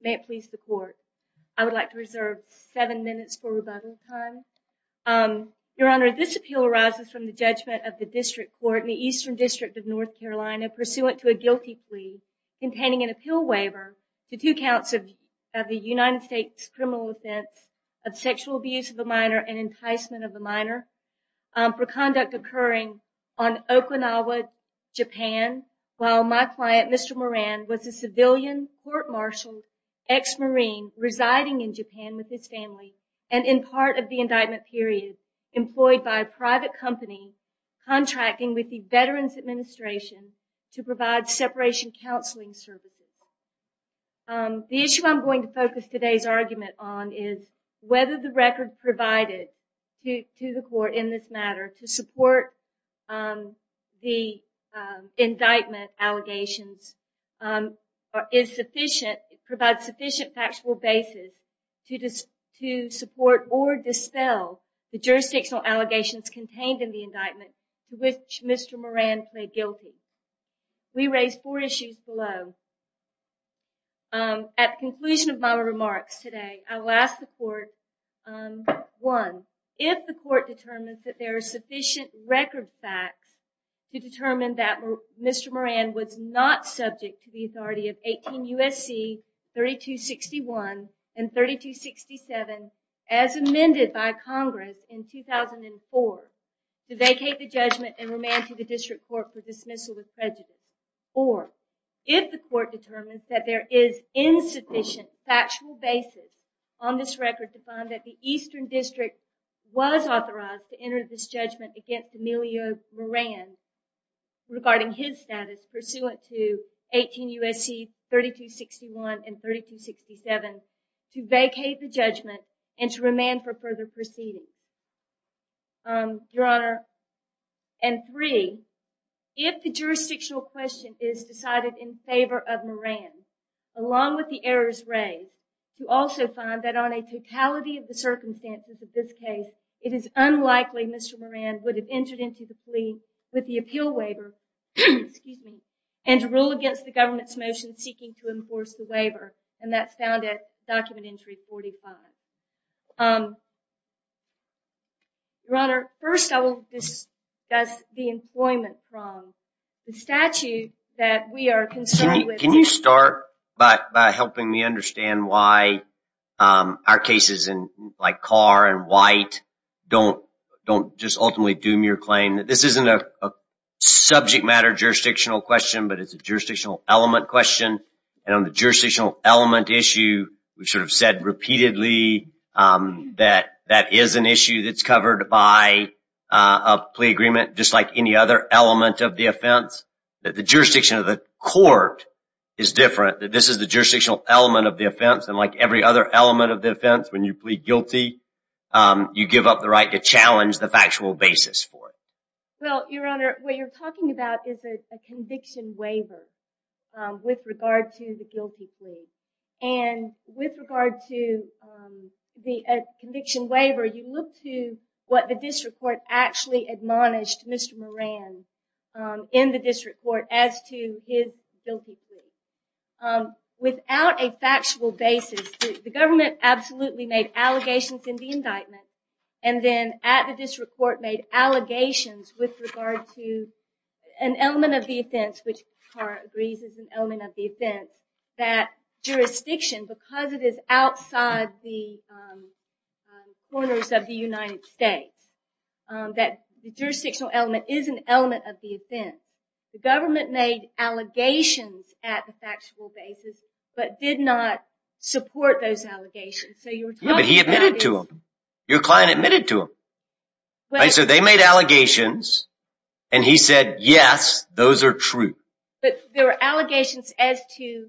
May it please the court. I would like to reserve 7 minutes for rebuttal time. Your Honor, this appeal arises from the judgment of the District Court in the Eastern District of North Carolina pursuant to a guilty plea containing an appeal waiver to two counts of the United States criminal offense of sexual abuse of a minor and enticement of a minor for conduct occurring on Okinawa, Japan while my client Mr. Moran was a civilian court-martialed ex-marine residing in Japan with his family and in part of the indictment period employed by a private company contracting with the Veterans Administration to provide separation counseling services. The issue I'm going to focus today's argument on is whether the record provided to the court in this matter to support the indictment allegations provides sufficient factual basis to support or dispel the jurisdictional allegations contained in the indictment to which Mr. Moran pled guilty. We raised four issues below. At the conclusion of my remarks today I will ask the court, one, if the court determines that there are sufficient record facts to determine that Mr. Moran was not subject to the authority of 18 U.S.C. 3261 and 3267 as amended by Congress in 2004 to vacate the judgment and remand to the district court for dismissal with prejudice or if the court determines that there is insufficient factual basis on this record to find that the Eastern District was authorized to enter this judgment against Emilio Moran regarding his status pursuant to 18 U.S.C. 3261 and three, if the jurisdictional question is decided in favor of Moran along with the errors raised to also find that on a totality of the circumstances of this case it is unlikely Mr. Moran would have entered into the plea with the appeal waiver and to rule against the government's motion seeking to enforce the waiver and that's found at document entry 45. Your Honor, first I will discuss the employment problem. The statute that we are concerned with. Can you start by helping me understand why our cases in like Carr and White don't just ultimately doom your claim? This isn't a subject matter jurisdictional question but it's a jurisdictional element question and on the jurisdictional element issue we've sort of said repeatedly that that is an issue that's covered by a plea agreement just like any other element of the offense. The jurisdiction of the court is different. This is the jurisdictional element of the offense and like every other element of the offense when you plead guilty you give up the right to challenge the factual basis for it. Well, Your Honor, what you're talking about is a conviction waiver with regard to the guilty plea and with regard to the conviction waiver you look to what the district court actually admonished Mr. Moran in the district court as to his guilty plea. Without a factual basis the government absolutely made allegations in the indictment and then at the district court made allegations with regard to an element of the offense which Carr agrees is an element of the offense that jurisdiction because it is outside the corners of the United States that jurisdictional element is an element of the offense. The government made allegations at the factual basis but did not support those allegations. But he admitted to them. Your client admitted to them. So they made allegations and he said yes, those are true. But there were allegations as to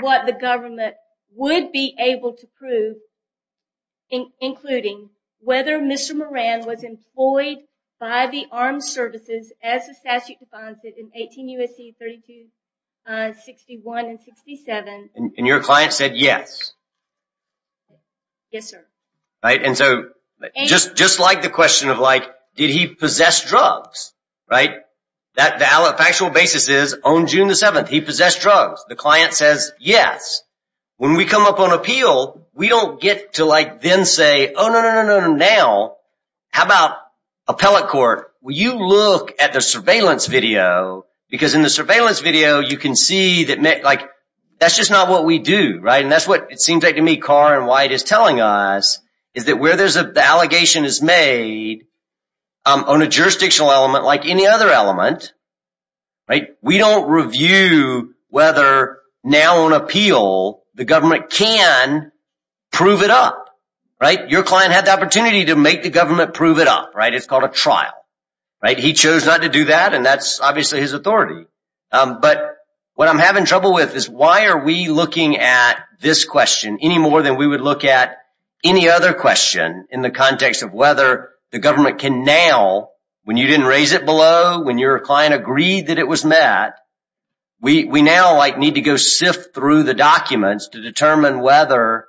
what the government would be able to prove including whether Mr. Moran was employed by the armed services as the statute defines it in 18 U.S.C. 32, 61, and 67. And your client said yes? Yes, sir. And so just like the question of like did he possess drugs, right? The factual basis is on June the 7th he possessed drugs. The client says yes. When we come up on appeal we don't get to like then say oh no, no, no, no, no, now how about appellate court? Well, you look at the surveillance video because in the surveillance video you can see that like that's just not what we do, right? And that's what it seems like to me Carr and White is telling us is that where there's an allegation is made on a jurisdictional element like any other element, right? We don't review whether now on appeal the government can prove it up, right? Your client had the opportunity to make the government prove it up, right? It's called a trial, right? He chose not to do that and that's obviously his authority. But what I'm having trouble with is why are we looking at this question any more than we would look at any other question in the context of whether the government can now, when you didn't raise it below, when your client agreed that it was met, we now like need to go sift through the documents to determine whether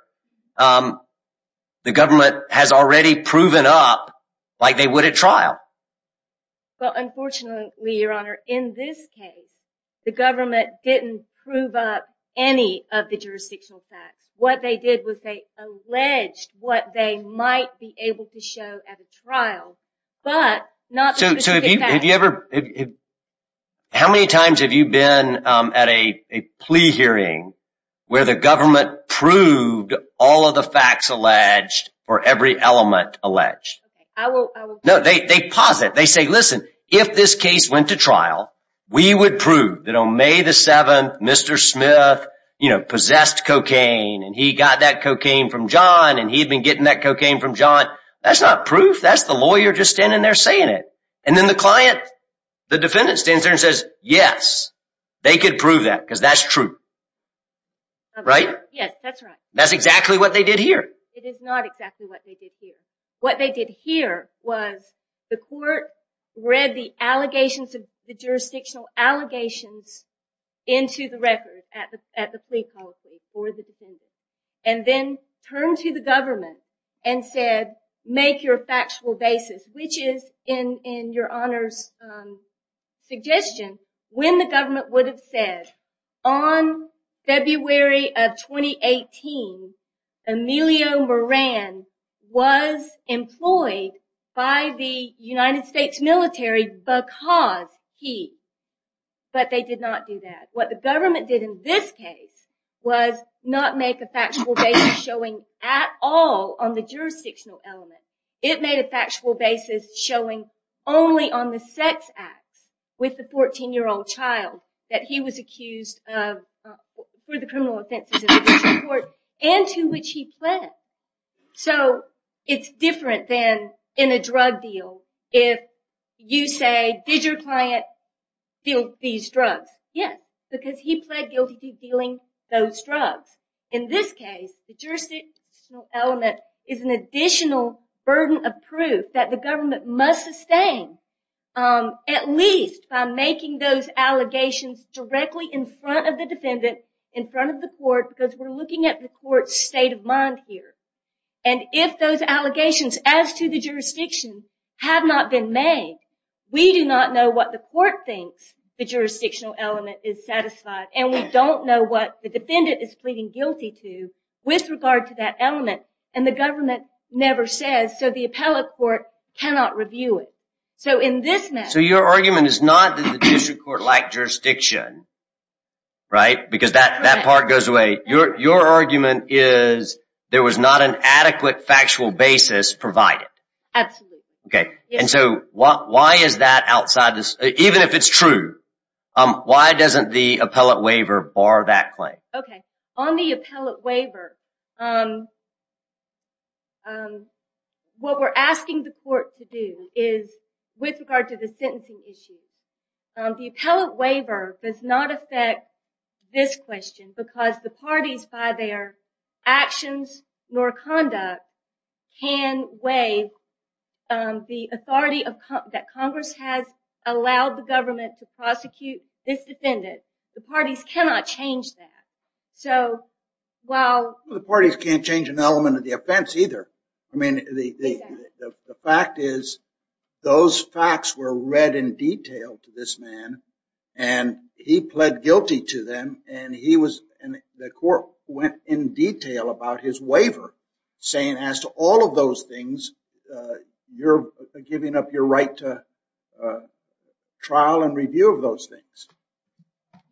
the government has already proven up like they would at trial. Well, unfortunately, your honor, in this case the government didn't prove up any of the jurisdictional facts. What they did was they alleged what they might be able to show at a trial but not the jurisdiction facts. How many times have you been at a plea hearing where the government proved all of the facts alleged or every element alleged? No, they posit. They say, listen, if this case went to trial, we would prove that on May the 7th Mr. Smith possessed cocaine and he got that cocaine from John and he'd been getting that cocaine from John. That's not proof. That's the lawyer just standing there saying it. And then the client, the defendant stands there and says, yes, they could prove that because that's true. Right? Yes, that's right. That's exactly what they did here. It is not exactly what they did here. What they did here was the court read the allegations of the jurisdictional allegations into the record at the plea policy and then turn to the government and said, make your factual basis, which is in your honor's suggestion, when the government would have said on February of 2018, Emilio Moran was employed by the United States military because he, but they did not do that. What the government did in this case was not make a factual basis showing at all on the jurisdictional element. It made a factual basis showing only on the sex acts with the 14 year old child that he was accused of for the criminal offenses and to which he pled. So it's different than in a drug deal. If you say, did your client feel these drugs? Yes, because he pled guilty to dealing those drugs. In this case, the jurisdictional element is an additional burden of proof that the government must sustain, at least by making those allegations directly in front of the defendant, in front of the court, because we're looking at the court's state of mind here. And if those allegations as to the jurisdiction have not been made, we do not know what the court thinks the jurisdictional element is satisfied, and we don't know what the defendant is pleading guilty to with regard to that element, and the government never says, so the appellate court cannot review it. So in this matter... The judiciary court lacked jurisdiction, right? Because that part goes away. Your argument is there was not an adequate factual basis provided. Absolutely. Okay. And so why is that outside this? Even if it's true, why doesn't the appellate waiver bar that claim? Okay. On the appellate waiver, what we're asking the court to do is, with regard to the sentencing issue, the appellate waiver does not affect this question, because the parties, by their actions nor conduct, can waive the authority that Congress has allowed the government to prosecute this defendant. The parties cannot change that. The parties can't change an element of the offense either. I mean, the fact is those facts were read in detail to this man, and he pled guilty to them, and the court went in detail about his waiver, saying as to all of those things, you're giving up your right to trial and review of those things.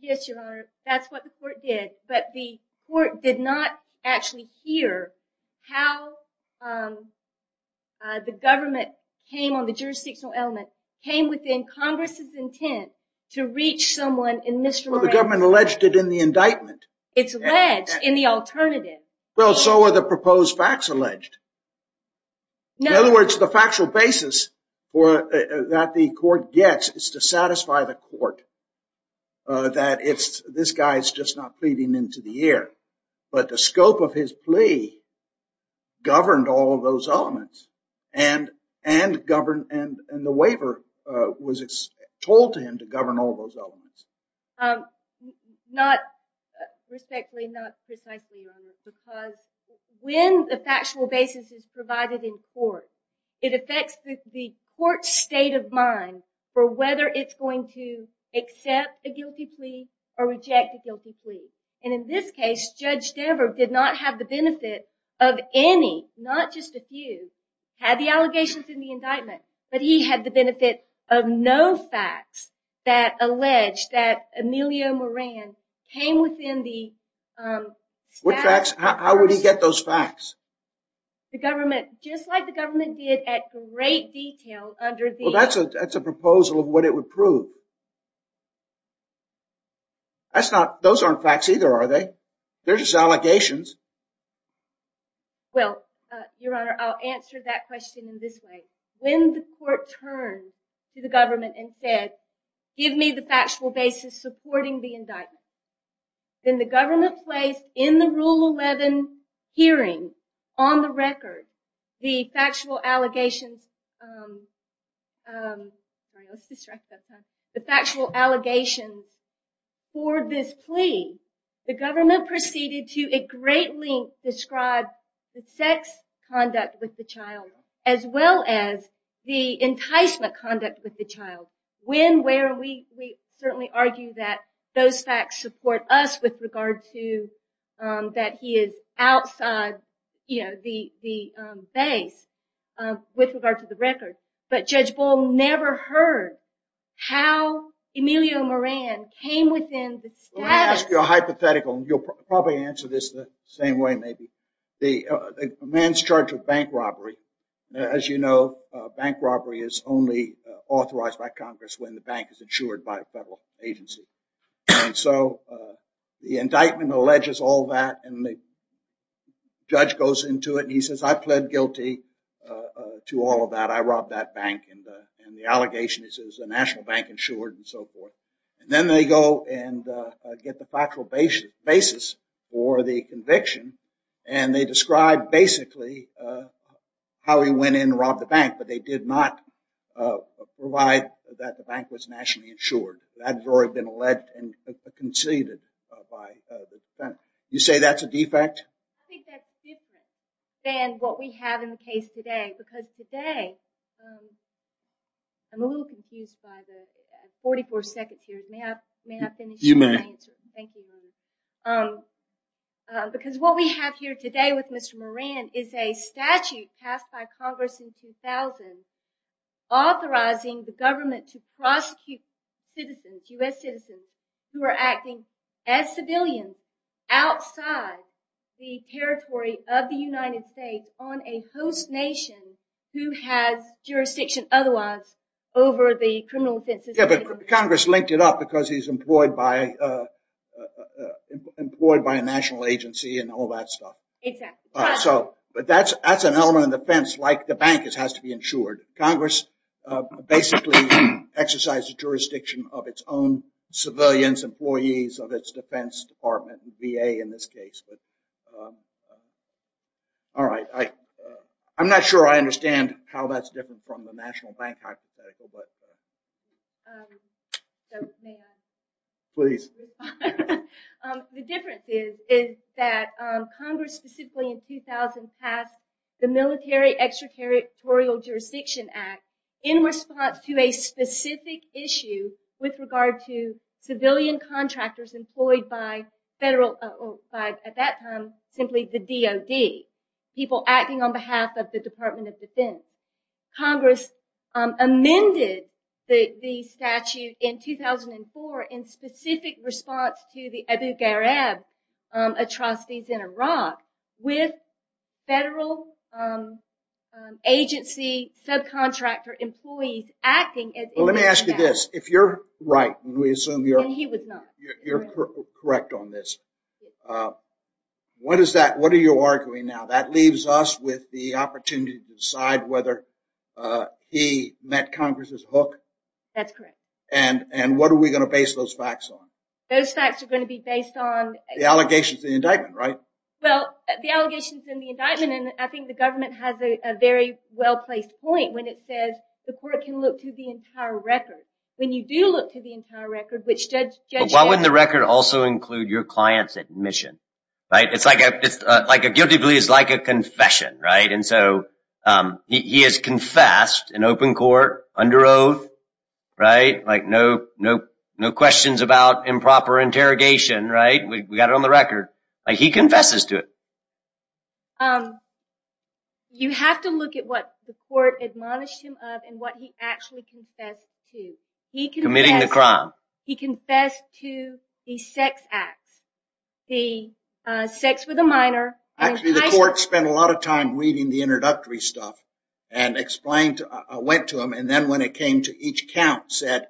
Yes, Your Honor. That's what the court did. But the court did not actually hear how the government came on the jurisdictional element, came within Congress's intent to reach someone in Mr. Romero. Well, the government alleged it in the indictment. It's alleged in the alternative. Well, so are the proposed facts alleged. In other words, the factual basis that the court gets is to satisfy the court that this guy is just not pleading into the air. But the scope of his plea governed all of those elements, and the waiver was told to him to govern all those elements. Not respectfully, not precisely, Your Honor, because when the factual basis is provided in court, it affects the court's state of mind for whether it's going to accept a guilty plea or reject a guilty plea. And in this case, Judge Dever did not have the benefit of any, not just a few, had the allegations in the indictment, but he had the benefit of no facts that alleged that Emilio Moran came within the facts. How would he get those facts? The government, just like the government did at great detail under the... Well, that's a proposal of what it would prove. Those aren't facts either, are they? They're just allegations. Well, Your Honor, I'll answer that question in this way. When the court turned to the government and said, give me the factual basis supporting the indictment, then the government placed in the Rule 11 hearing, on the record, the factual allegations for this plea, the government proceeded to at great length describe the sex conduct with the child, as well as the enticement conduct with the child. When, where, we certainly argue that those facts support us with regard to that he is outside the base with regard to the record. But Judge Bull never heard how Emilio Moran came within the status... Let me ask you a hypothetical. You'll probably answer this the same way, maybe. A man's charged with bank robbery. As you know, bank robbery is only authorized by Congress when the bank is insured by a federal agency. And so the indictment alleges all that and the judge goes into it and he says, I pled guilty to all of that. I robbed that bank. And the allegation is it was a national bank insured and so forth. And then they go and get the factual basis for the conviction. And they describe basically how he went in and robbed the bank, but they did not provide that the bank was nationally insured. That had already been alleged and conceded by the defense. You say that's a defect? I think that's different than what we have in the case today. Because today, I'm a little confused by the 44 seconds here. May I finish my answer? You may. Thank you. Because what we have here today with Mr. Moran is a statute passed by Congress in 2000 authorizing the government to prosecute citizens, U.S. citizens, who are acting as civilians outside the territory of the United States on a host nation who has jurisdiction otherwise over the criminal offenses. Yeah, but Congress linked it up because he's employed by a national agency and all that stuff. Exactly. But that's an element of defense like the bank has to be insured. Congress basically exercised the jurisdiction of its own civilians, employees of its defense department, VA in this case. All right, I'm not sure I understand how that's different from the national bank hypothetical. May I? Please. The difference is that Congress specifically in 2000 passed the Military Extraterritorial Jurisdiction Act in response to a specific issue with regard to civilian contractors employed by at that time simply the DOD, people acting on behalf of the Department of Defense. Congress amended the statute in 2004 in specific response to the Abu Ghraib atrocities in Iraq with federal agency subcontractor employees acting as... Let me ask you this. If you're right, we assume you're correct on this. What is that? What are you arguing now? That leaves us with the opportunity to decide whether he met Congress' hook. That's correct. And what are we going to base those facts on? Those facts are going to be based on... The allegations in the indictment, right? Well, the allegations in the indictment, and I think the government has a very well-placed point when it says the court can look to the entire record. When you do look to the entire record, which Judge... Why wouldn't the record also include your client's admission? It's like a guilty plea is like a confession, right? And so he has confessed in open court under oath, right? Like no questions about improper interrogation, right? We got it on the record. He confesses to it. You have to look at what the court admonished him of and what he actually confessed to. Committing the crime. He confessed to the sex acts, the sex with a minor. Actually, the court spent a lot of time reading the introductory stuff and went to him, and then when it came to each count, said,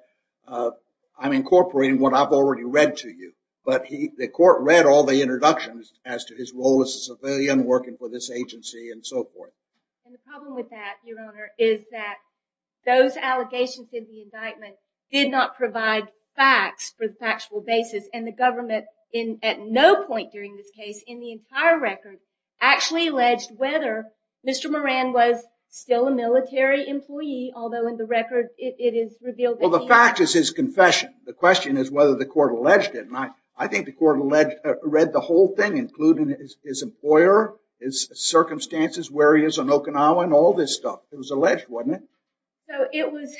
I'm incorporating what I've already read to you. But the court read all the introductions as to his role as a civilian working for this agency and so forth. And the problem with that, Your Honor, is that those allegations in the indictment did not provide facts for the factual basis, and the government at no point during this case in the entire record actually alleged whether Mr. Moran was still a military employee, although in the record it is revealed that he... Well, the fact is his confession. The question is whether the court alleged it, and I think the court read the whole thing, including his employer, his circumstances, where he is in Okinawa, and all this stuff. It was alleged, wasn't it?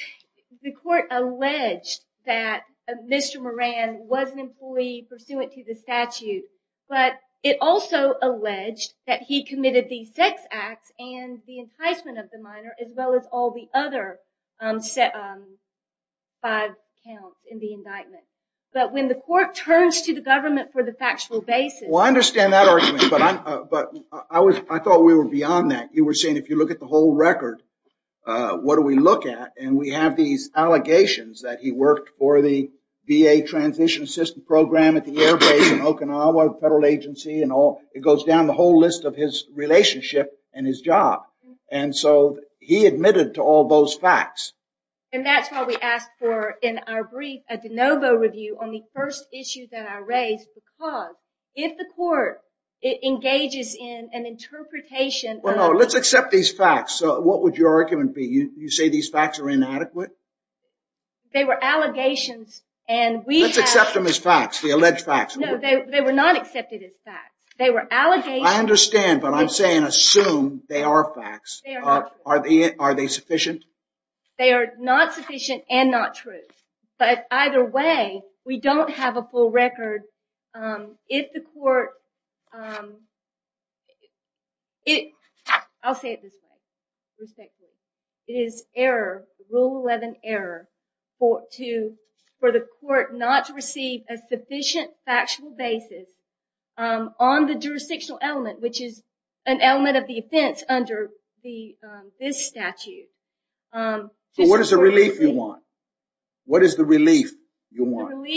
The court alleged that Mr. Moran was an employee pursuant to the statute, but it also alleged that he committed the sex acts and the enticement of the minor, as well as all the other five counts in the indictment. But when the court turns to the government for the factual basis... Well, I understand that argument, but I thought we were beyond that. You were saying if you look at the whole record, what do we look at? And we have these allegations that he worked for the VA Transition Assistance Program at the airbase in Okinawa, the federal agency, and all. It goes down the whole list of his relationship and his job. And so he admitted to all those facts. And that's why we asked for, in our brief, a de novo review on the first issue that I raised, because if the court engages in an interpretation... No, let's accept these facts. What would your argument be? You say these facts are inadequate? They were allegations, and we have... Let's accept them as facts, the alleged facts. No, they were not accepted as facts. They were allegations... I understand, but I'm saying assume they are facts. Are they sufficient? They are not sufficient and not true. But either way, we don't have a full record. If the court... I'll say it this way, respectfully. It is error, Rule 11 error, for the court not to receive a sufficient factual basis on the jurisdictional element, which is an element of the offense under this statute. So what is the relief you want? What is the relief you want?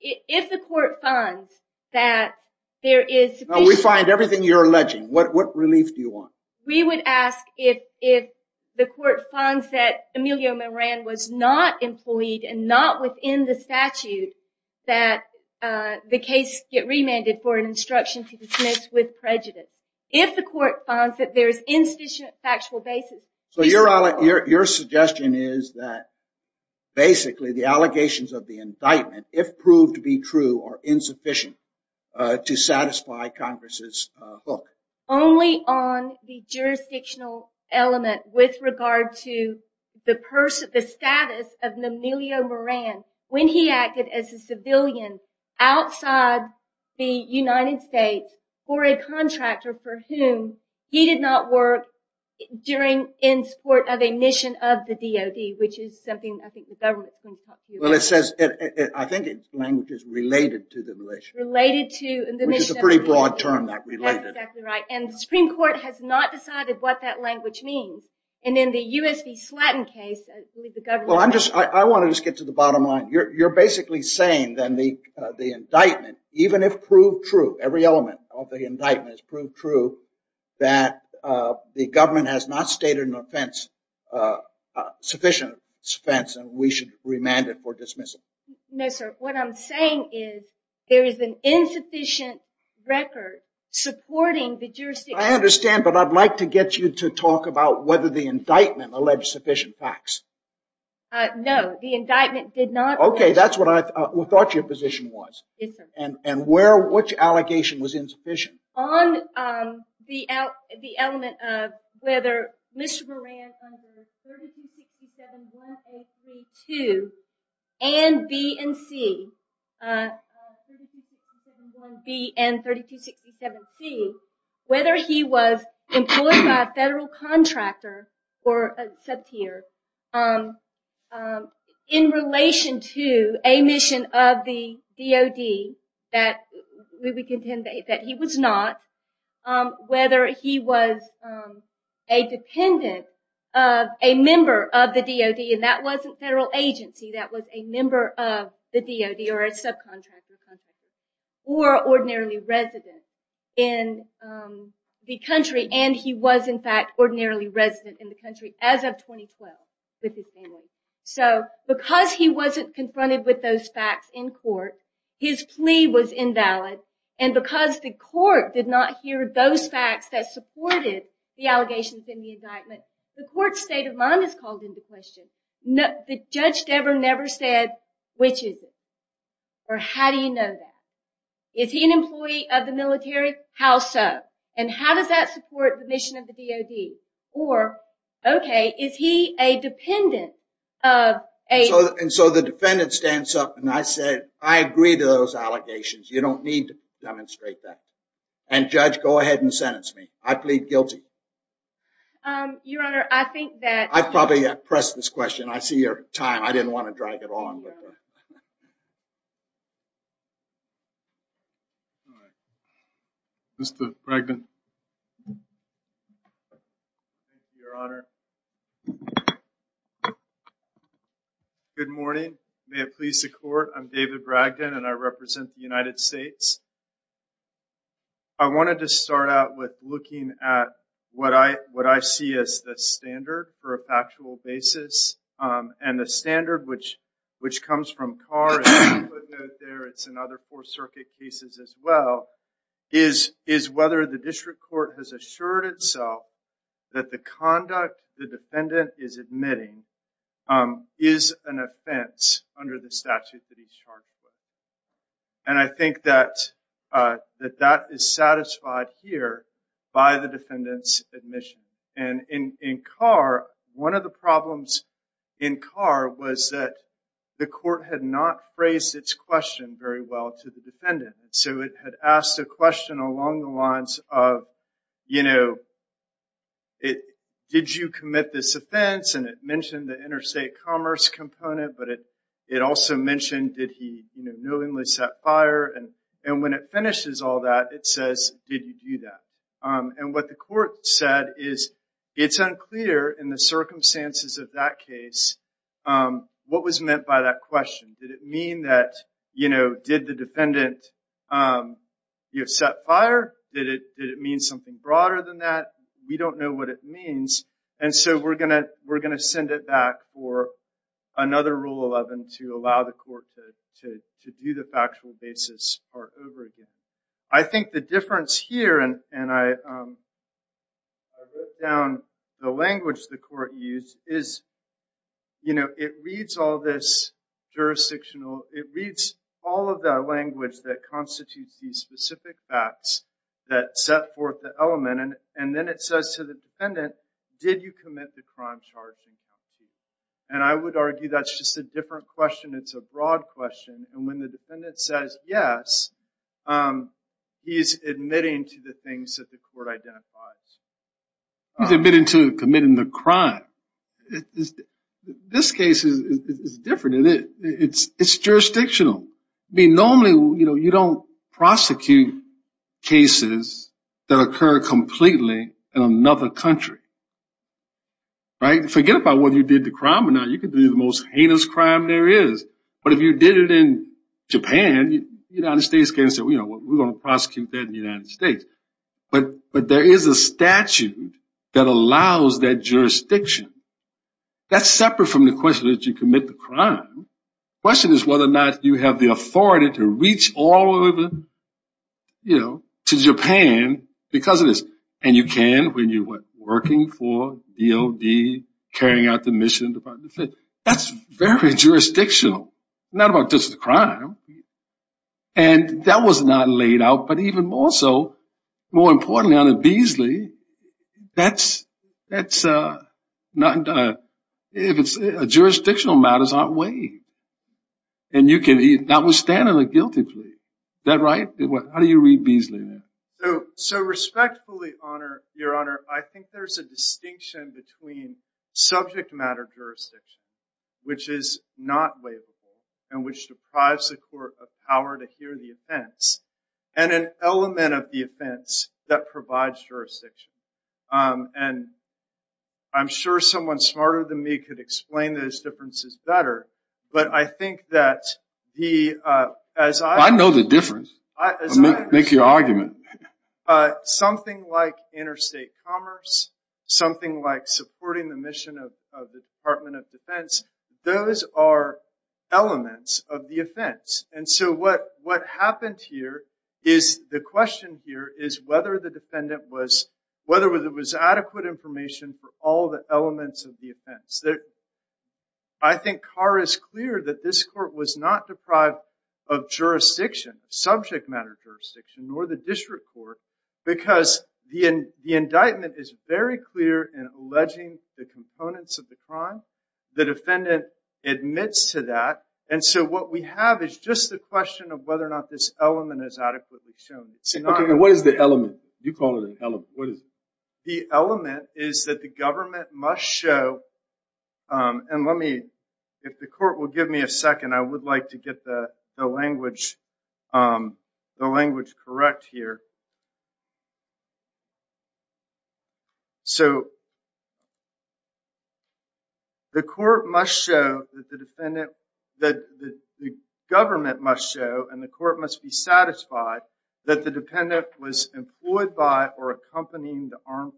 If the court finds that there is sufficient... No, we find everything you're alleging. What relief do you want? We would ask if the court finds that Emilio Moran was not employed and not within the statute that the case get remanded for an instruction to dismiss with prejudice. If the court finds that there is insufficient factual basis... So your suggestion is that basically the allegations of the indictment, if proved to be true, are insufficient to satisfy Congress's book. Only on the jurisdictional element with regard to the status of Emilio Moran when he acted as a civilian outside the United States or a contractor for whom he did not work in support of a mission of the DOD, which is something I think the government is going to talk to you about. Well, it says... I think the language is related to the militia. Related to... Which is a pretty broad term, that related. That's exactly right. And the Supreme Court has not decided what that language means. And in the U.S. v. Slatton case, I believe the government... Well, I want to just get to the bottom line. You're basically saying then the indictment, even if proved true, every element of the indictment is proved true, that the government has not stated sufficient offense and we should remand it for dismissal. No, sir. What I'm saying is there is an insufficient record supporting the jurisdiction... I understand, but I'd like to get you to talk about whether the indictment alleged sufficient facts. No, the indictment did not... Okay, that's what I thought your position was. Yes, sir. And which allegation was insufficient? On the element of whether Mr. Moran under 3267-1A32 and B and C, 3267-1B and 3267-C, whether he was employed by a federal contractor or a sub-tier in relation to a mission of the DOD that we would contend that he was not, whether he was a dependent, a member of the DOD, and that wasn't federal agency, that was a member of the DOD or a subcontractor, or ordinarily resident in the country, and he was, in fact, ordinarily resident in the country as of 2012 with his family. So because he wasn't confronted with those facts in court, his plea was invalid, and because the court did not hear those facts that supported the allegations in the indictment, the court's state of mind is called into question. Judge Dever never said, which is it? Or how do you know that? Is he an employee of the military? How so? And how does that support the mission of the DOD? Or, okay, is he a dependent of a... And so the defendant stands up, and I said, I agree to those allegations. You don't need to demonstrate that. And, Judge, go ahead and sentence me. I plead guilty. Your Honor, I think that... I probably pressed this question. I see your time. I didn't want to drag it on with her. All right. Mr. Bragdon. Thank you, Your Honor. Good morning. May it please the Court. I'm David Bragdon, and I represent the United States. I wanted to start out with looking at what I see as the standard for a factual basis. And the standard, which comes from Carr, it's in other Fourth Circuit cases as well, is whether the district court has assured itself that the conduct the defendant is admitting is an offense under the statute that he's charged with. And I think that that is satisfied here by the defendant's admission. And in Carr, one of the problems in Carr was that the court had not phrased its question very well to the defendant. So it had asked a question along the lines of, you know, did you commit this offense? And it mentioned the interstate commerce component, but it also mentioned, did he knowingly set fire? And when it finishes all that, it says, did you do that? And what the court said is, it's unclear in the circumstances of that case what was meant by that question. Did it mean that, you know, did the defendant set fire? Did it mean something broader than that? We don't know what it means. And so we're going to send it back for another Rule 11 to allow the court to do the factual basis part over again. I think the difference here, and I wrote down the language the court used, is, you know, it reads all this jurisdictional. It reads all of the language that constitutes these specific facts that set forth the element. And then it says to the defendant, did you commit the crime charge? And I would argue that's just a different question. It's a broad question. And when the defendant says yes, he's admitting to the things that the court identifies. He's admitting to committing the crime. This case is different. It's jurisdictional. I mean, normally, you know, you don't prosecute cases that occur completely in another country. Right? Forget about whether you did the crime or not. You could do the most heinous crime there is. But if you did it in Japan, the United States can't say, we're going to prosecute that in the United States. But there is a statute that allows that jurisdiction. That's separate from the question that you commit the crime. The question is whether or not you have the authority to reach all over to Japan because of this. And you can when you're working for DOD, carrying out the mission of the Department of Defense. That's very jurisdictional, not about just the crime. And that was not laid out. But even more so, more importantly, under Beasley, jurisdictional matters aren't waived. And you cannot withstand a guilty plea. Is that right? How do you read Beasley there? So respectfully, Your Honor, I think there's a distinction between subject matter jurisdiction, which is not waivable and which deprives the court of power to hear the offense, and an element of the offense that provides jurisdiction. And I'm sure someone smarter than me could explain those differences better. But I think that the, as I understand it. I know the difference. Make your argument. Something like interstate commerce, something like supporting the mission of the Department of Defense, those are elements of the offense. And so what happened here is the question here is whether the defendant was adequate information for all the elements of the offense. I think Carr is clear that this court was not deprived of jurisdiction, subject matter jurisdiction, nor the district court, because the indictment is very clear in alleging the components of the crime. The defendant admits to that. And so what we have is just the question of whether or not this element is adequately shown. OK, what is the element? You call it an element. What is it? The element is that the government must show, and let me, if the court will give me a second, I would like to get the language correct here. The court must show that the defendant, the government must show, and the court must be satisfied, that the dependent was employed by or accompanying the armed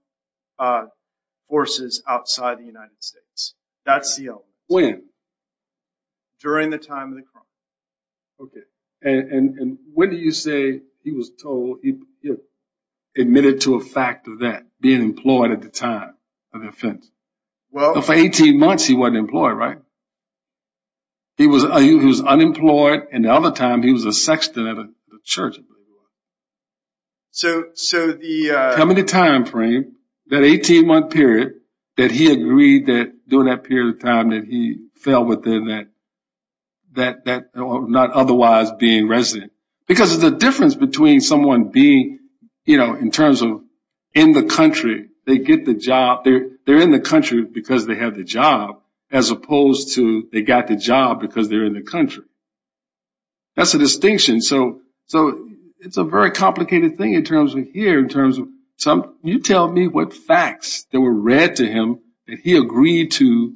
forces outside the United States. That's the element. When? During the time of the crime. OK, and when do you say he was told, he admitted to a fact of that, being employed at the time of the offense? Well, for 18 months he wasn't employed, right? He was unemployed, and the other time he was a sexton at a church, I believe it was. So the, uh, Tell me the time frame, that 18 month period, that he agreed that during that period of time that he fell within that, not otherwise being resident. Because of the difference between someone being, you know, in terms of in the country, they get the job, they're in the country because they have the job, as opposed to they got the job because they're in the country. That's a distinction. So it's a very complicated thing in terms of here, in terms of you tell me what facts that were read to him that he agreed to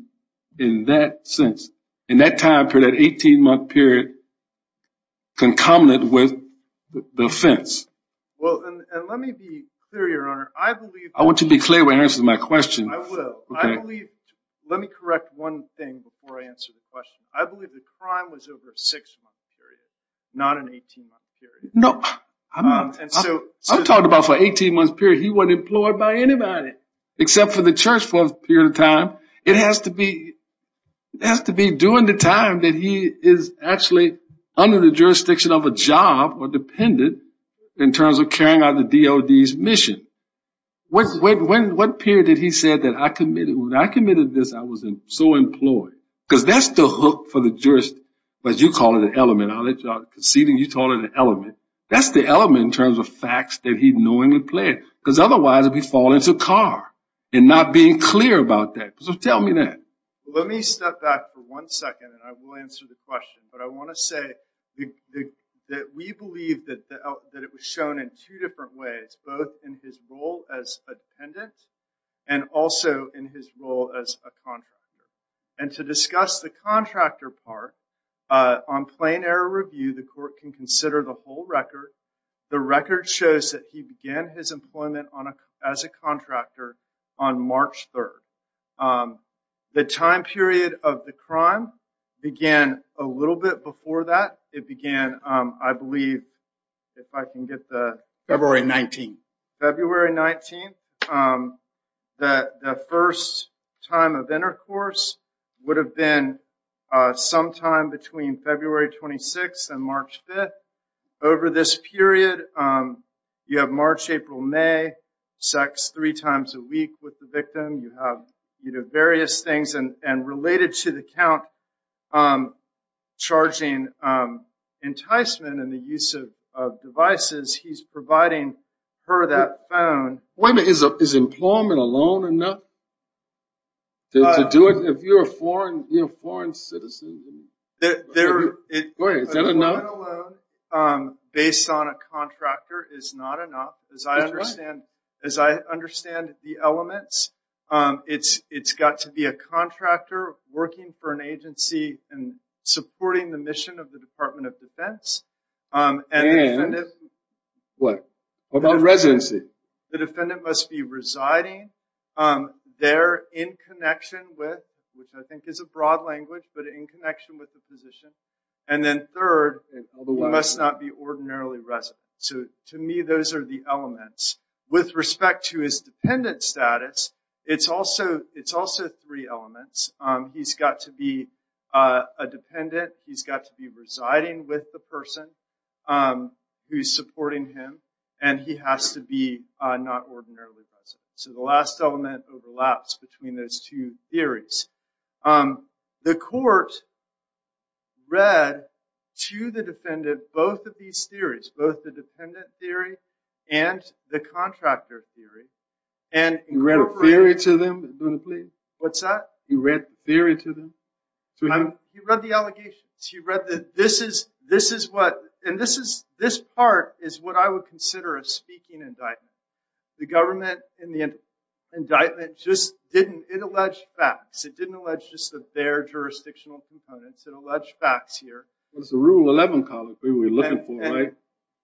in that sense. In that time period, that 18 month period, concomitant with the offense. Well, and let me be clear, your honor, I believe I want you to be clear when answering my question. I will. Let me correct one thing before I answer the question. I believe the crime was over a six month period, not an 18 month period. No. I'm talking about for an 18 month period, he wasn't employed by anybody. Except for the church for a period of time. It has to be during the time that he is actually under the jurisdiction of a job or dependent in terms of carrying out the DOD's mission. What period did he say that I committed? When I committed this, I was so employed. Because that's the hook for the jurist. But you call it an element. Conceding, you call it an element. That's the element in terms of facts that he knowingly played. Because otherwise, he'd fall into a car and not being clear about that. So tell me that. Let me step back for one second and I will answer the question. But I want to say that we believe that it was shown in two different ways, both in his role as a dependent and also in his role as a contractor. And to discuss the contractor part, on plain error review, the court can consider the whole record. The record shows that he began his employment as a contractor on March 3rd. The time period of the crime began a little bit before that. It began, I believe, if I can get the... February 19th. February 19th. The first time of intercourse would have been sometime between February 26th and March 5th. Over this period, you have March, April, May, sex three times a week with the victim. You have various things. And related to the count charging enticement and the use of devices, he's providing her that phone. Wait a minute. Is employment alone enough to do it? If you're a foreign citizen, is that enough? Employment alone based on a contractor is not enough. As I understand the elements, it's got to be a contractor working for an agency and supporting the mission of the Department of Defense. And what about residency? The defendant must be residing there in connection with, which I think is a broad language, but in connection with the physician. And then third, he must not be ordinarily resident. To me, those are the elements. With respect to his dependent status, it's also three elements. He's got to be a dependent. He's got to be residing with the person who's supporting him. And he has to be not ordinarily resident. So the last element overlaps between those two theories. The court read to the defendant both of these theories, both the dependent theory and the contractor theory. You read a theory to them? What's that? You read the theory to them? He read the allegations. And this part is what I would consider a speaking indictment. The government, in the indictment, just didn't allege facts. It didn't allege just their jurisdictional components. It alleged facts here. It's the Rule 11 colloquy we're looking for, right?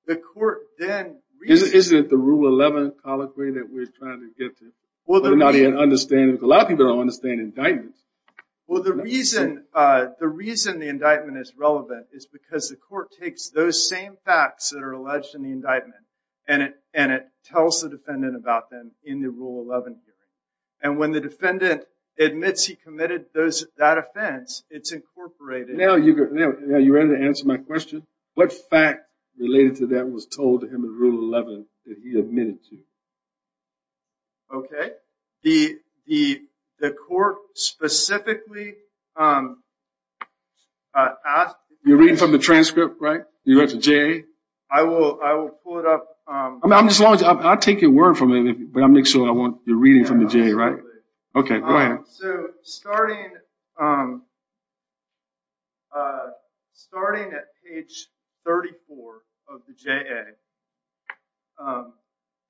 The court then reads it. Isn't it the Rule 11 colloquy that we're trying to get to? We're not even understanding. Because a lot of people don't understand indictments. Well, the reason the indictment is relevant is because the court takes those same facts that are alleged in the indictment, and it tells the defendant about them in the Rule 11 theory. And when the defendant admits he committed that offense, it's incorporated. Now, you ready to answer my question? What fact related to that was told to him in Rule 11 that he admitted to? OK. The court specifically asked. You're reading from the transcript, right? You read the JA? I will pull it up. I mean, I'll take your word for it, but I'll make sure I want the reading from the JA, right? Yeah, absolutely. OK, go ahead. So starting at page 34 of the JA,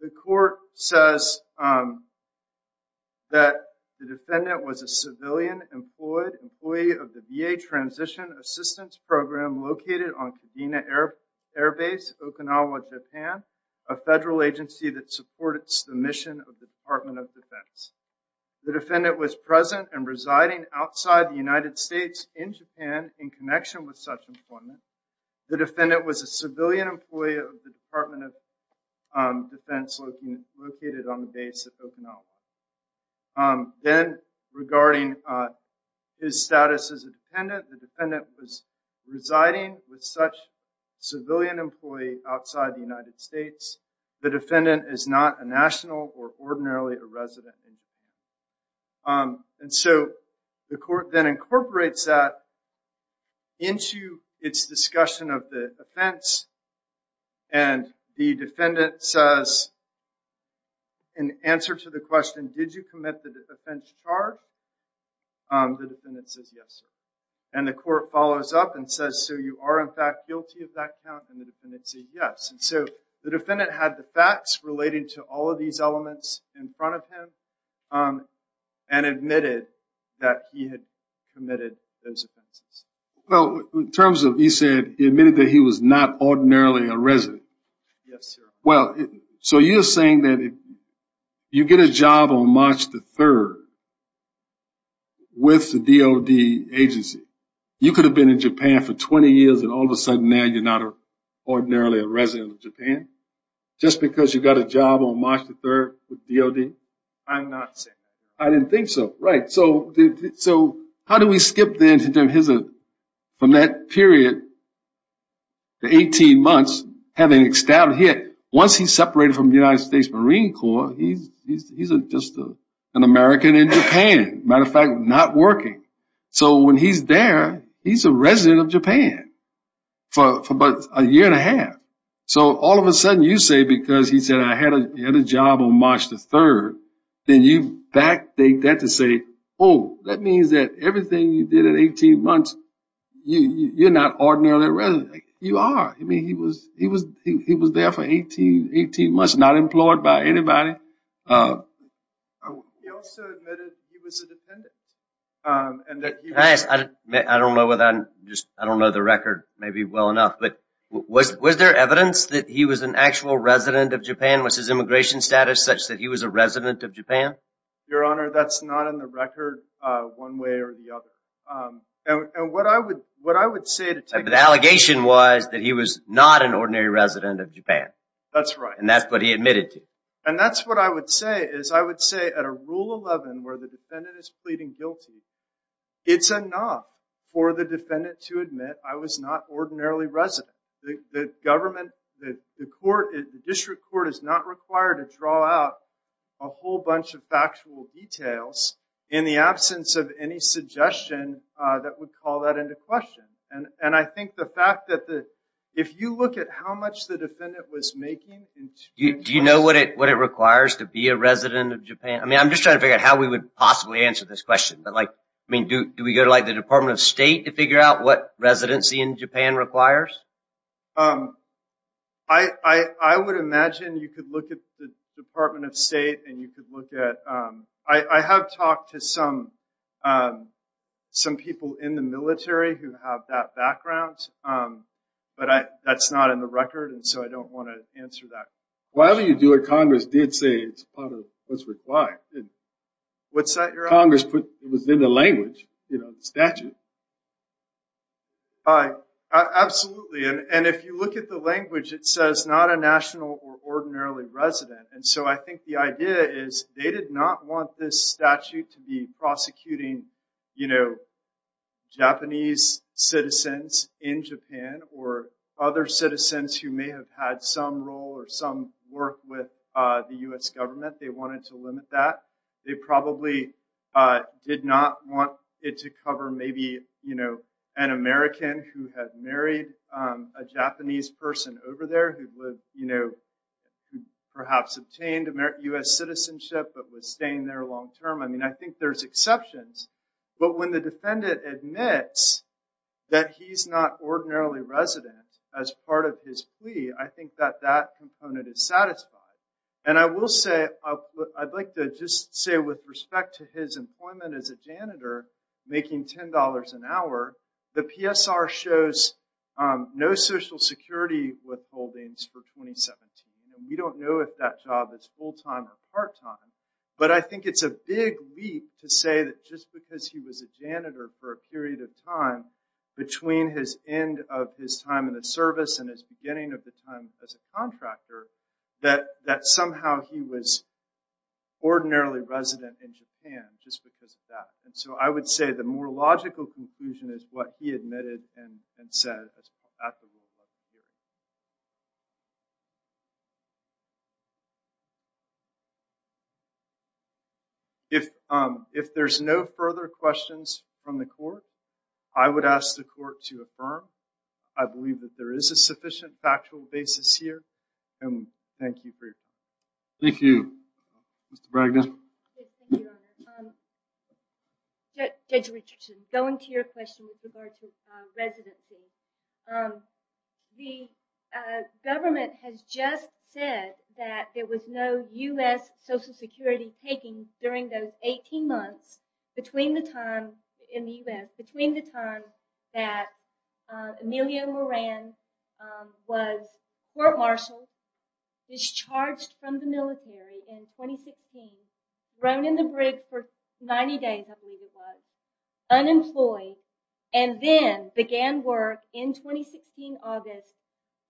the court says that the defendant was a civilian employee of the VA Transition Assistance Program located on Kadena Air Base, Okinawa, Japan, a federal agency that supports the mission of the Department of Defense. The defendant was present and residing outside the United States in Japan in connection with such employment. The defendant was a civilian employee of the Department of Defense located on the base of Okinawa. Then, regarding his status as a defendant, the defendant was residing with such civilian employee outside the United States. The defendant is not a national or ordinarily a resident. And so the court then incorporates that into its discussion of the offense. And the defendant says, in answer to the question, did you commit the offense charge? The defendant says, yes, sir. And the court follows up and says, so you are, in fact, guilty of that count. And the defendant says, yes. And so the defendant had the facts relating to all of these elements in front of him and admitted that he had committed those offenses. Well, in terms of he admitted that he was not ordinarily a resident. Yes, sir. Well, so you're saying that if you get a job on March the 3rd with the DOD agency, you could have been in Japan for 20 years and all of a sudden now you're not ordinarily a resident of Japan? Just because you got a job on March the 3rd with DOD? I'm not saying that. I didn't think so. Right. So how do we skip then from that period, the 18 months, once he's separated from the United States Marine Corps, he's just an American in Japan. Matter of fact, not working. So when he's there, he's a resident of Japan for about a year and a half. So all of a sudden you say, because he said I had a job on March the 3rd, then you backdate that to say, oh, that means that everything you did in 18 months, you're not ordinarily a resident. You are. He was there for 18 months, not employed by anybody. He also admitted he was a dependent. Can I ask? I don't know the record maybe well enough, but was there evidence that he was an actual resident of Japan? Was his immigration status such that he was a resident of Japan? Your Honor, that's not in the record one way or the other. And what I would say to take a look at that. The allegation was that he was not an ordinary resident of Japan. That's right. And that's what he admitted to. And that's what I would say, is I would say at a Rule 11 where the defendant is pleading guilty, it's enough for the defendant to admit I was not ordinarily resident. The government, the court, the district court is not required to draw out a whole bunch of factual details in the absence of any suggestion that would call that into question. And I think the fact that if you look at how much the defendant was making. Do you know what it requires to be a resident of Japan? I'm just trying to figure out how we would possibly answer this question. Do we go to the Department of State to figure out what residency in Japan requires? I would imagine you could look at the Department of State and you could look at, I have talked to some people in the military who have that background, but that's not in the record, and so I don't want to answer that question. While you do it, Congress did say it's part of what's required. What's that? Congress put within the language, you know, the statute. Absolutely, and if you look at the language, it says not a national or ordinarily resident. And so I think the idea is they did not want this statute to be prosecuting Japanese citizens in Japan or other citizens who may have had some role or some work with the U.S. government. They wanted to limit that. They probably did not want it to cover maybe an American who had married a Japanese person over there who perhaps obtained U.S. citizenship but was staying there long term. I mean, I think there's exceptions, but when the defendant admits that he's not ordinarily resident as part of his plea, I think that that component is satisfied. And I will say, I'd like to just say with respect to his employment as a janitor, making $10 an hour, the PSR shows no Social Security withholdings for 2017. We don't know if that job is full-time or part-time, but I think it's a big leap to say that just because he was a janitor for a period of time between his end of his time in the service and his beginning of the time as a contractor, that somehow he was ordinarily resident in Japan just because of that. And so I would say the more logical conclusion is what he admitted and said. If there's no further questions from the court, I would ask the court to affirm. I believe that there is a sufficient factual basis here, and thank you for your time. Thank you. Judge Richardson, going to your question with regard to residency. The government has just said that there was no U.S. Social Security taking during those 18 months in the U.S. between the time that Emilio Moran was court-martialed, discharged from the military in 2016, thrown in the brig for 90 days, I believe it was, unemployed, and then began work in 2016, August,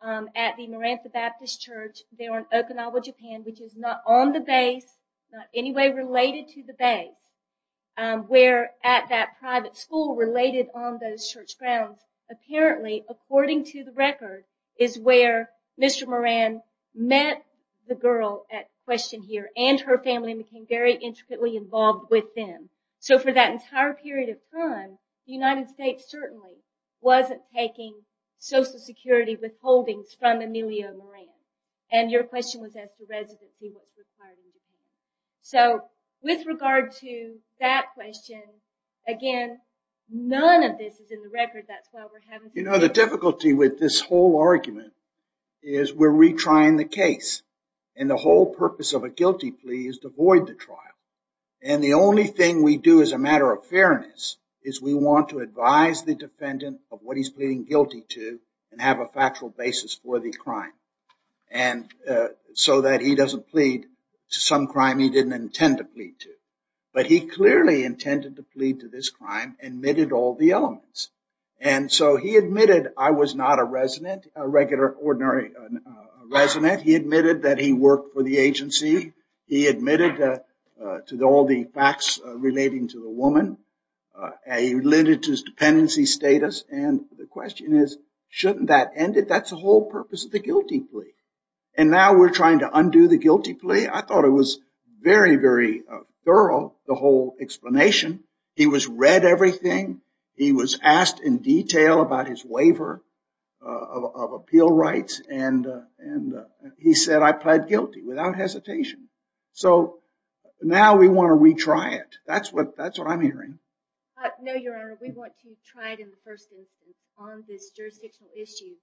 at the Moran The Baptist Church there in Okinawa, Japan, which is not on the base, not in any way related to the base. We're at that private school related on those church grounds. Apparently, according to the record, is where Mr. Moran met the girl at question here and her family and became very intricately involved with them. So for that entire period of time, the United States certainly wasn't taking Social Security withholdings from Emilio Moran. And your question was as to residency. So with regard to that question, again, none of this is in the record. You know, the difficulty with this whole argument is we're retrying the case. And the whole purpose of a guilty plea is to void the trial. And the only thing we do as a matter of fairness is we want to advise the defendant of what he's pleading guilty to and have a factual basis for the crime so that he doesn't plead to some crime he didn't intend to plead to. But he clearly intended to plead to this crime and admitted all the elements. And so he admitted I was not a resident, a regular, ordinary resident. He admitted that he worked for the agency. He admitted to all the facts relating to the woman. He alluded to his dependency status. And the question is, shouldn't that end it? That's the whole purpose of the guilty plea. And now we're trying to undo the guilty plea? I thought it was very, very thorough, the whole explanation. He was read everything. He was asked in detail about his waiver of appeal rights. And he said, I pled guilty without hesitation. So now we want to retry it. That's what I'm hearing. No, Your Honor. We want to try it in the first instance on this jurisdictional issue.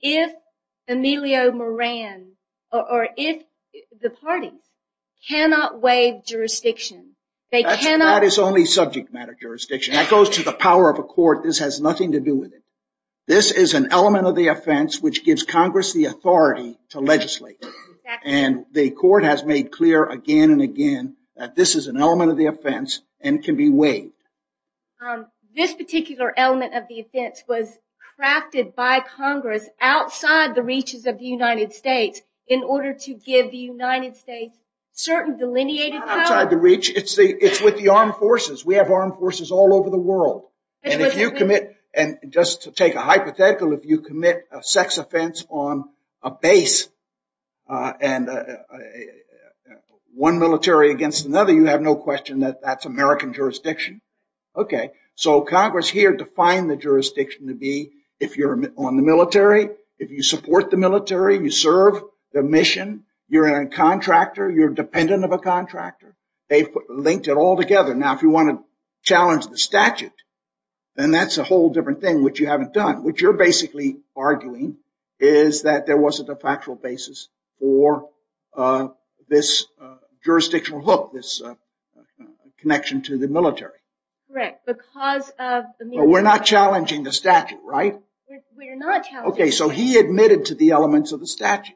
If Emilio Moran or if the parties cannot waive jurisdiction, they cannot That is only subject matter jurisdiction. That goes to the power of a court. This has nothing to do with it. This is an element of the offense which gives Congress the authority to legislate. And the court has made clear again and again that this is an element of the offense and can be waived. This particular element of the offense was crafted by Congress outside the reaches of the United States in order to give the United States certain delineated powers. Not outside the reach. It's with the armed forces. We have armed forces all over the world. And just to take a hypothetical, if you commit a sex offense on a base and one military against another, you have no question that that's American jurisdiction. So Congress here defined the jurisdiction to be if you're on the military, if you support the military, you serve the mission, you're a contractor, you're dependent of a contractor. They've linked it all together. Now, if you want to challenge the statute, then that's a whole different thing, which you haven't done. What you're basically arguing is that there wasn't a factual basis for this jurisdictional hook, this connection to the military. Correct. Because of the military. But we're not challenging the statute, right? We're not challenging the statute. Okay. So he admitted to the elements of the statute.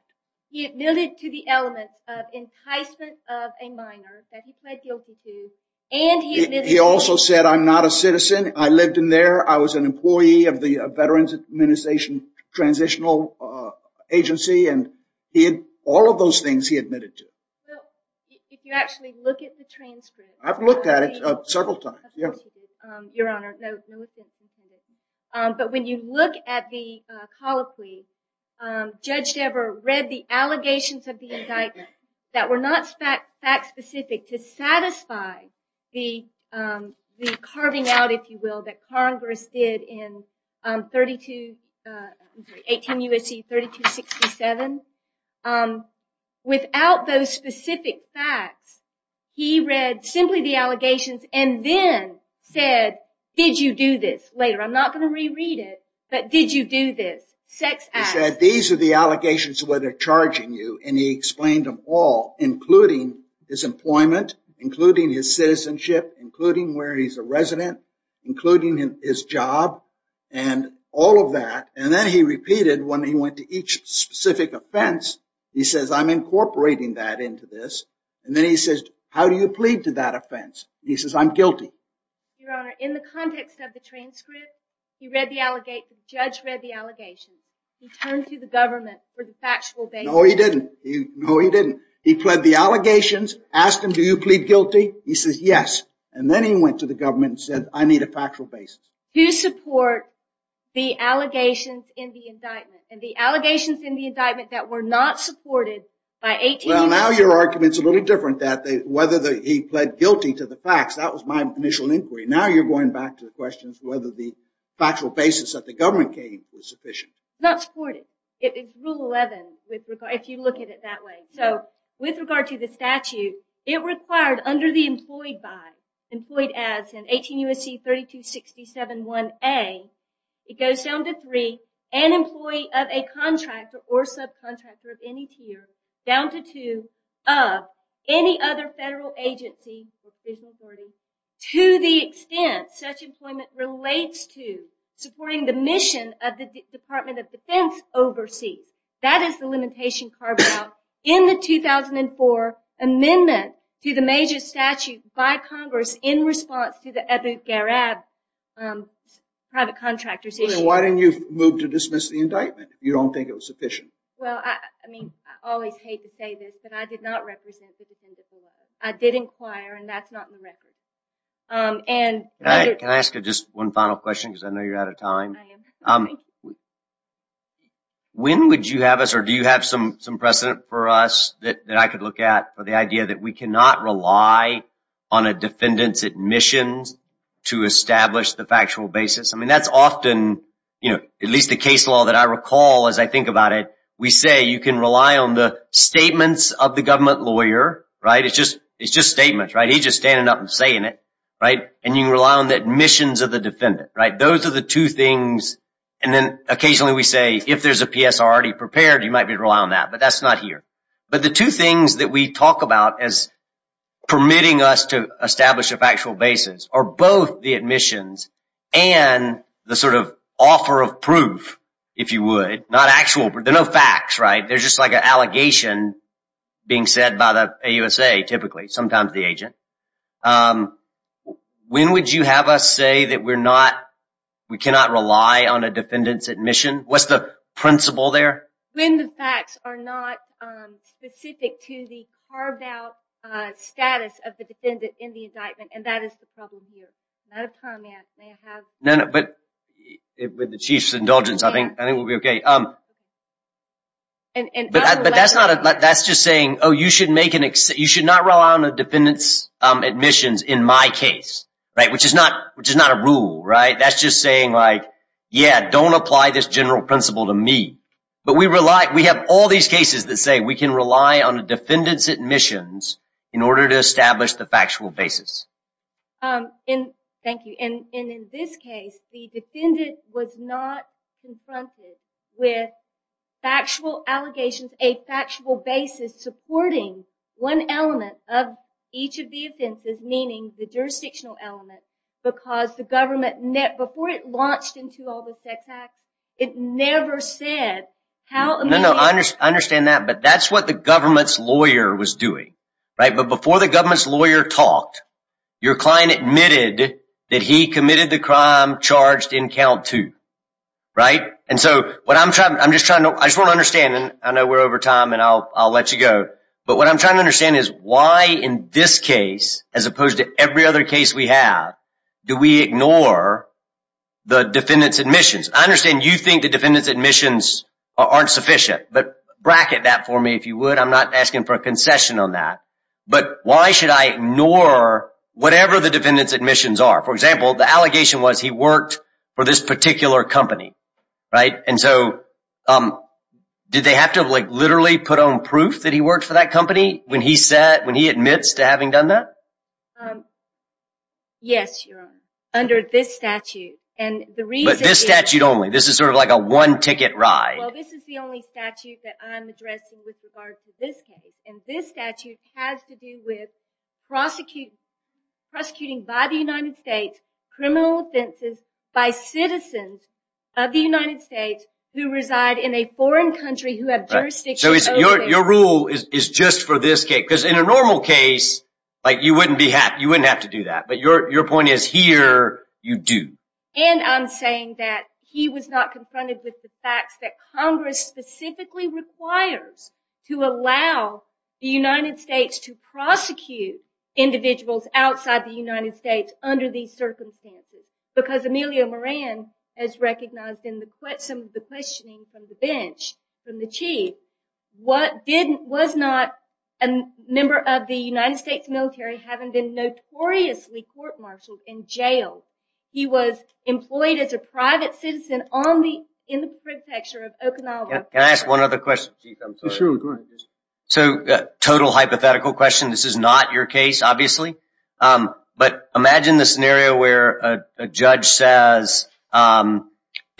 He admitted to the elements of enticement of a minor that he pled guilty to. He also said, I'm not a citizen. I lived in there. I was an employee of the Veterans Administration Transitional Agency. And all of those things he admitted to. If you actually look at the transcript. I've looked at it several times. Your Honor, no offense intended. But when you look at the colloquy, Judge Dever read the allegations of the indictment that were not fact specific to satisfy the carving out, if you will, that Congress did in 18 U.S.C. 3267. Without those specific facts, he read simply the allegations and then said, did you do this? Later, I'm not going to reread it, but did you do this? He said, these are the allegations where they're charging you. And he explained them all, including his employment, including his citizenship, including where he's a resident, including his job, and all of that. And then he repeated when he went to each specific offense. He says, I'm incorporating that into this. And then he says, how do you plead to that offense? He says, I'm guilty. Your Honor, in the context of the transcript, the judge read the allegations. He turned to the government for the factual basis. No, he didn't. No, he didn't. He pled the allegations, asked them, do you plead guilty? He says, yes. And then he went to the government and said, I need a factual basis. Who support the allegations in the indictment? And the allegations in the indictment that were not supported by 18 U.S.C. Well, now your argument's a little different, whether he pled guilty to the facts. That was my initial inquiry. Now you're going back to the questions whether the factual basis that the government gave was sufficient. Not supported. It's Rule 11, if you look at it that way. So with regard to the statute, it required under the employed by, employed as in 18 U.S.C. 3267-1A, it goes down to three, an employee of a contractor or subcontractor of any tier, down to two, of any other federal agency or official authority, to the extent such employment relates to supporting the mission of the Department of Defense overseas. That is the limitation carved out in the 2004 amendment to the major statute by Congress in response to the Abu Ghraib private contractor's issue. Why didn't you move to dismiss the indictment if you don't think it was sufficient? Well, I mean, I always hate to say this, but I did not represent the defendant below. I did inquire, and that's not in the record. Can I ask just one final question because I know you're out of time? I am. When would you have us or do you have some precedent for us that I could look at for the idea that we cannot rely on a defendant's admissions to establish the factual basis? I mean, that's often at least the case law that I recall as I think about it. We say you can rely on the statements of the government lawyer, right? It's just statements, right? He's just standing up and saying it, right? And you can rely on the admissions of the defendant, right? Those are the two things. And then occasionally we say if there's a PSR already prepared, you might be able to rely on that, but that's not here. But the two things that we talk about as permitting us to establish a factual basis are both the admissions and the sort of offer of proof, if you would, not actual. There are no facts, right? There's just like an allegation being said by the AUSA typically, sometimes the agent. When would you have us say that we cannot rely on a defendant's admission? What's the principle there? When the facts are not specific to the carved out status of the defendant in the indictment, and that is the problem here. Not a comment. May I have? No, no, but with the Chief's indulgence, I think we'll be okay. But that's just saying, oh, you should not rely on a defendant's admissions in my case, right? Which is not a rule, right? That's just saying like, yeah, don't apply this general principle to me. But we have all these cases that say we can rely on a defendant's admissions in order to establish the factual basis. Thank you. And in this case, the defendant was not confronted with factual allegations, a factual basis supporting one element of each of the offenses, meaning the jurisdictional element, because the government, before it launched into all the sex acts, it never said how- No, no, I understand that, but that's what the government's lawyer was doing, right? But before the government's lawyer talked, your client admitted that he committed the crime charged in count two, right? And so what I'm trying, I'm just trying to, I just want to understand, and I know we're over time and I'll let you go, but what I'm trying to understand is why in this case, as opposed to every other case we have, do we ignore the defendant's admissions? I understand you think the defendant's admissions aren't sufficient, but bracket that for me if you would. I'm not asking for a concession on that. But why should I ignore whatever the defendant's admissions are? For example, the allegation was he worked for this particular company, right? And so did they have to literally put on proof that he worked for that company when he admits to having done that? Yes, Your Honor, under this statute. But this statute only? This is sort of like a one-ticket ride. Well, this is the only statute that I'm addressing with regard to this case, and this statute has to do with prosecuting by the United States criminal offenses by citizens of the United States who reside in a foreign country who have jurisdiction over them. So your rule is just for this case, because in a normal case, like you wouldn't be happy, you wouldn't have to do that. But your point is here, you do. And I'm saying that he was not confronted with the facts that Congress specifically requires to allow the United States to prosecute individuals outside the United States under these circumstances. Because Emilio Moran has recognized in some of the questioning from the bench, from the Chief, was not a member of the United States military having been notoriously court-martialed in jail. He was employed as a private citizen in the prefecture of Okinawa. Can I ask one other question, Chief? Sure, go ahead. So, total hypothetical question, this is not your case, obviously. But imagine the scenario where a judge says in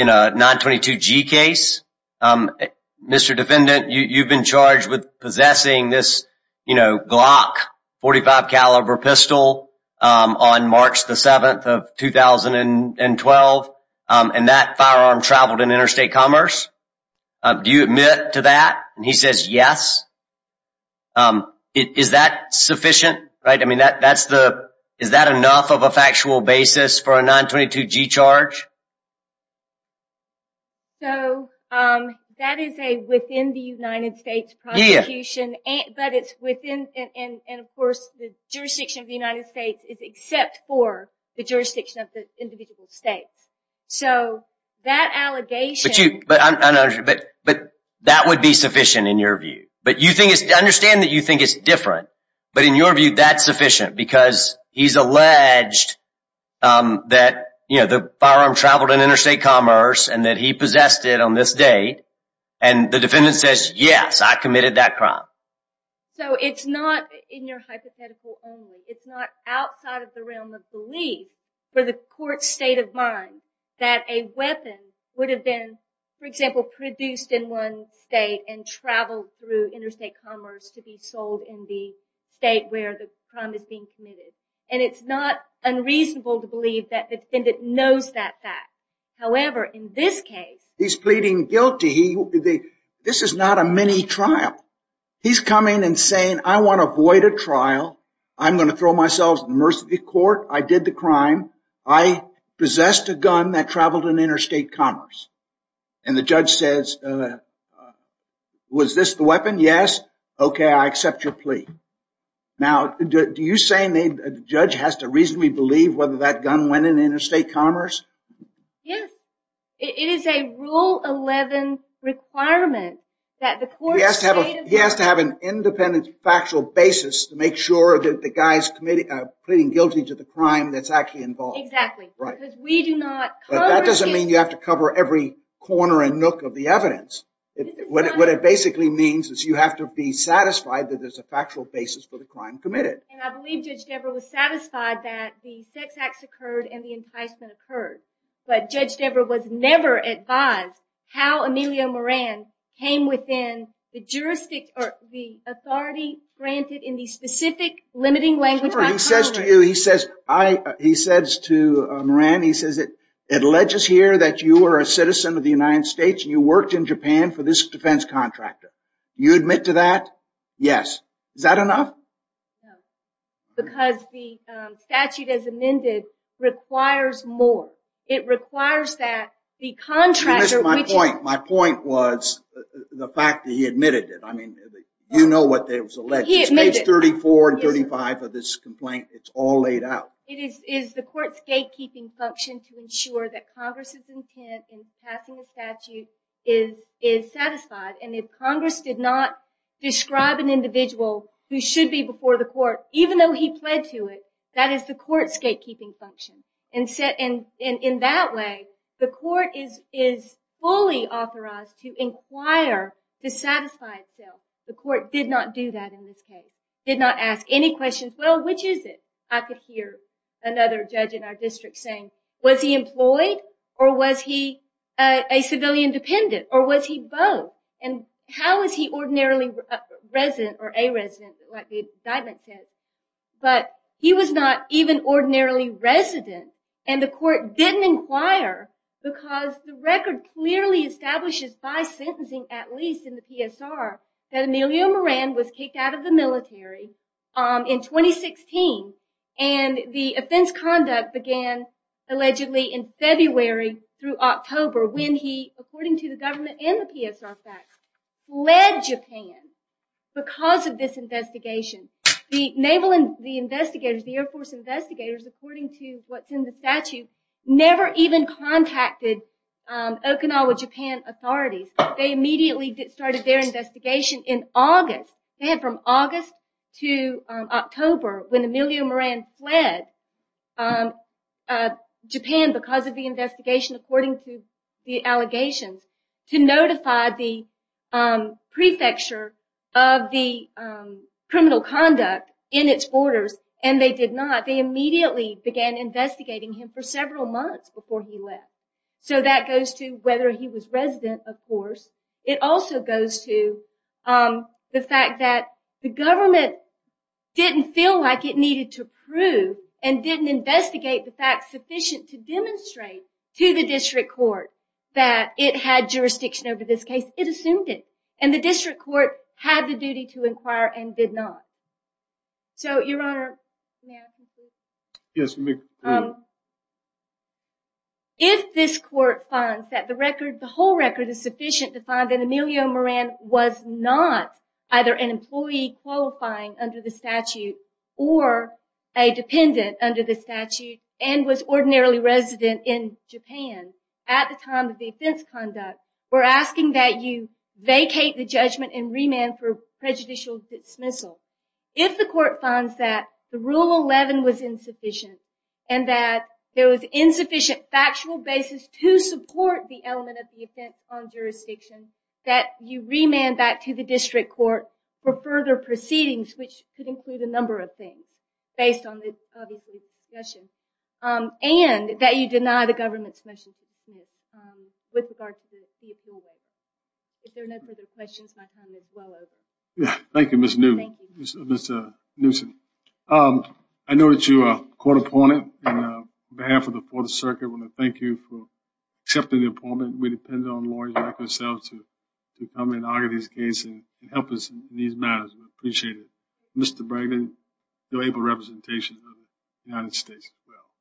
a 922G case, Mr. Defendant, you've been charged with possessing this Glock .45 caliber pistol on March 7, 2012. And that firearm traveled in interstate commerce. Do you admit to that? And he says yes. Is that sufficient? Is that enough of a factual basis for a 922G charge? So, that is a within the United States prosecution. But it's within, and of course, the jurisdiction of the United States is except for the jurisdiction of the individual states. So, that allegation... But that would be sufficient in your view. But you think it's, I understand that you think it's different. But in your view, that's sufficient because he's alleged that the firearm traveled in interstate commerce and that he possessed it on this date. And the defendant says, yes, I committed that crime. So, it's not in your hypothetical only. It's not outside of the realm of belief for the court's state of mind that a weapon would have been, for example, produced in one state and traveled through interstate commerce to be sold in the state where the crime is being committed. And it's not unreasonable to believe that the defendant knows that fact. However, in this case... He's pleading guilty. This is not a mini trial. He's coming and saying, I want to avoid a trial. I'm going to throw myself in the mercy of the court. I did the crime. I possessed a gun that traveled in interstate commerce. And the judge says, was this the weapon? Yes. Okay, I accept your plea. Now, do you say the judge has to reasonably believe whether that gun went in interstate commerce? Yes. It is a Rule 11 requirement that the court's state of mind... He has to have an independent factual basis to make sure that the guy's pleading guilty to the crime that's actually involved. Exactly. Right. But that doesn't mean you have to cover every corner and nook of the evidence. What it basically means is you have to be satisfied that there's a factual basis for the crime committed. And I believe Judge Devereux was satisfied that the sex acts occurred and the enticement occurred. But Judge Devereux was never advised how Emilio Moran came within the jurisdiction or the authority granted in the specific limiting language... He says to Moran, he says, it alleges here that you are a citizen of the United States and you worked in Japan for this defense contractor. You admit to that? Yes. Is that enough? No. Because the statute as amended requires more. It requires that the contractor... You missed my point. My point was the fact that he admitted it. I mean, you know what there was alleged. He admitted. It's page 34 and 35 of this complaint. It's all laid out. It is the court's gatekeeping function to ensure that Congress' intent in passing the statute is satisfied. And if Congress did not describe an individual who should be before the court, even though he pled to it, that is the court's gatekeeping function. And in that way, the court is fully authorized to inquire to satisfy itself. The court did not do that in this case. Did not ask any questions. Well, which is it? I could hear another judge in our district saying, was he employed or was he a civilian dependent or was he both? And how is he ordinarily resident or a resident like the indictment says? But he was not even ordinarily resident. And the court didn't inquire because the record clearly establishes by sentencing, at least in the PSR, that Emilio Moran was kicked out of the military in 2016. And the offense conduct began allegedly in February through October when he, according to the government and the PSR facts, fled Japan because of this investigation. The naval investigators, the Air Force investigators, according to what's in the statute, never even contacted Okinawa Japan authorities. They immediately started their investigation in August. They had from August to October when Emilio Moran fled Japan because of the investigation, according to the allegations, to notify the prefecture of the criminal conduct in its borders. And they did not. They immediately began investigating him for several months before he left. So that goes to whether he was resident, of course. It also goes to the fact that the government didn't feel like it needed to prove and didn't investigate the facts sufficient to demonstrate to the district court that it had jurisdiction over this case. It assumed it. And the district court had the duty to inquire and did not. So, Your Honor, may I ask a question? Yes, you may. If this court finds that the record, the whole record is sufficient to find that Emilio Moran was not either an employee qualifying under the statute or a dependent under the statute and was ordinarily resident in Japan at the time of the offense conduct, we're asking that you vacate the judgment and remand for prejudicial dismissal. If the court finds that the Rule 11 was insufficient and that there was insufficient factual basis to support the element of the offense on jurisdiction, that you remand that to the district court for further proceedings, which could include a number of things based on the discussion, and that you deny the government's motion with regard to the appeal. If there are no further questions, my time is well over. Thank you, Ms. Newsom. I know that you are a court opponent. On behalf of the Fourth Circuit, I want to thank you for accepting the appointment. We depend on lawyers like ourselves to come in and argue these cases and help us in these matters. We appreciate it. Mr. Bregman, you're an able representation of the United States as well.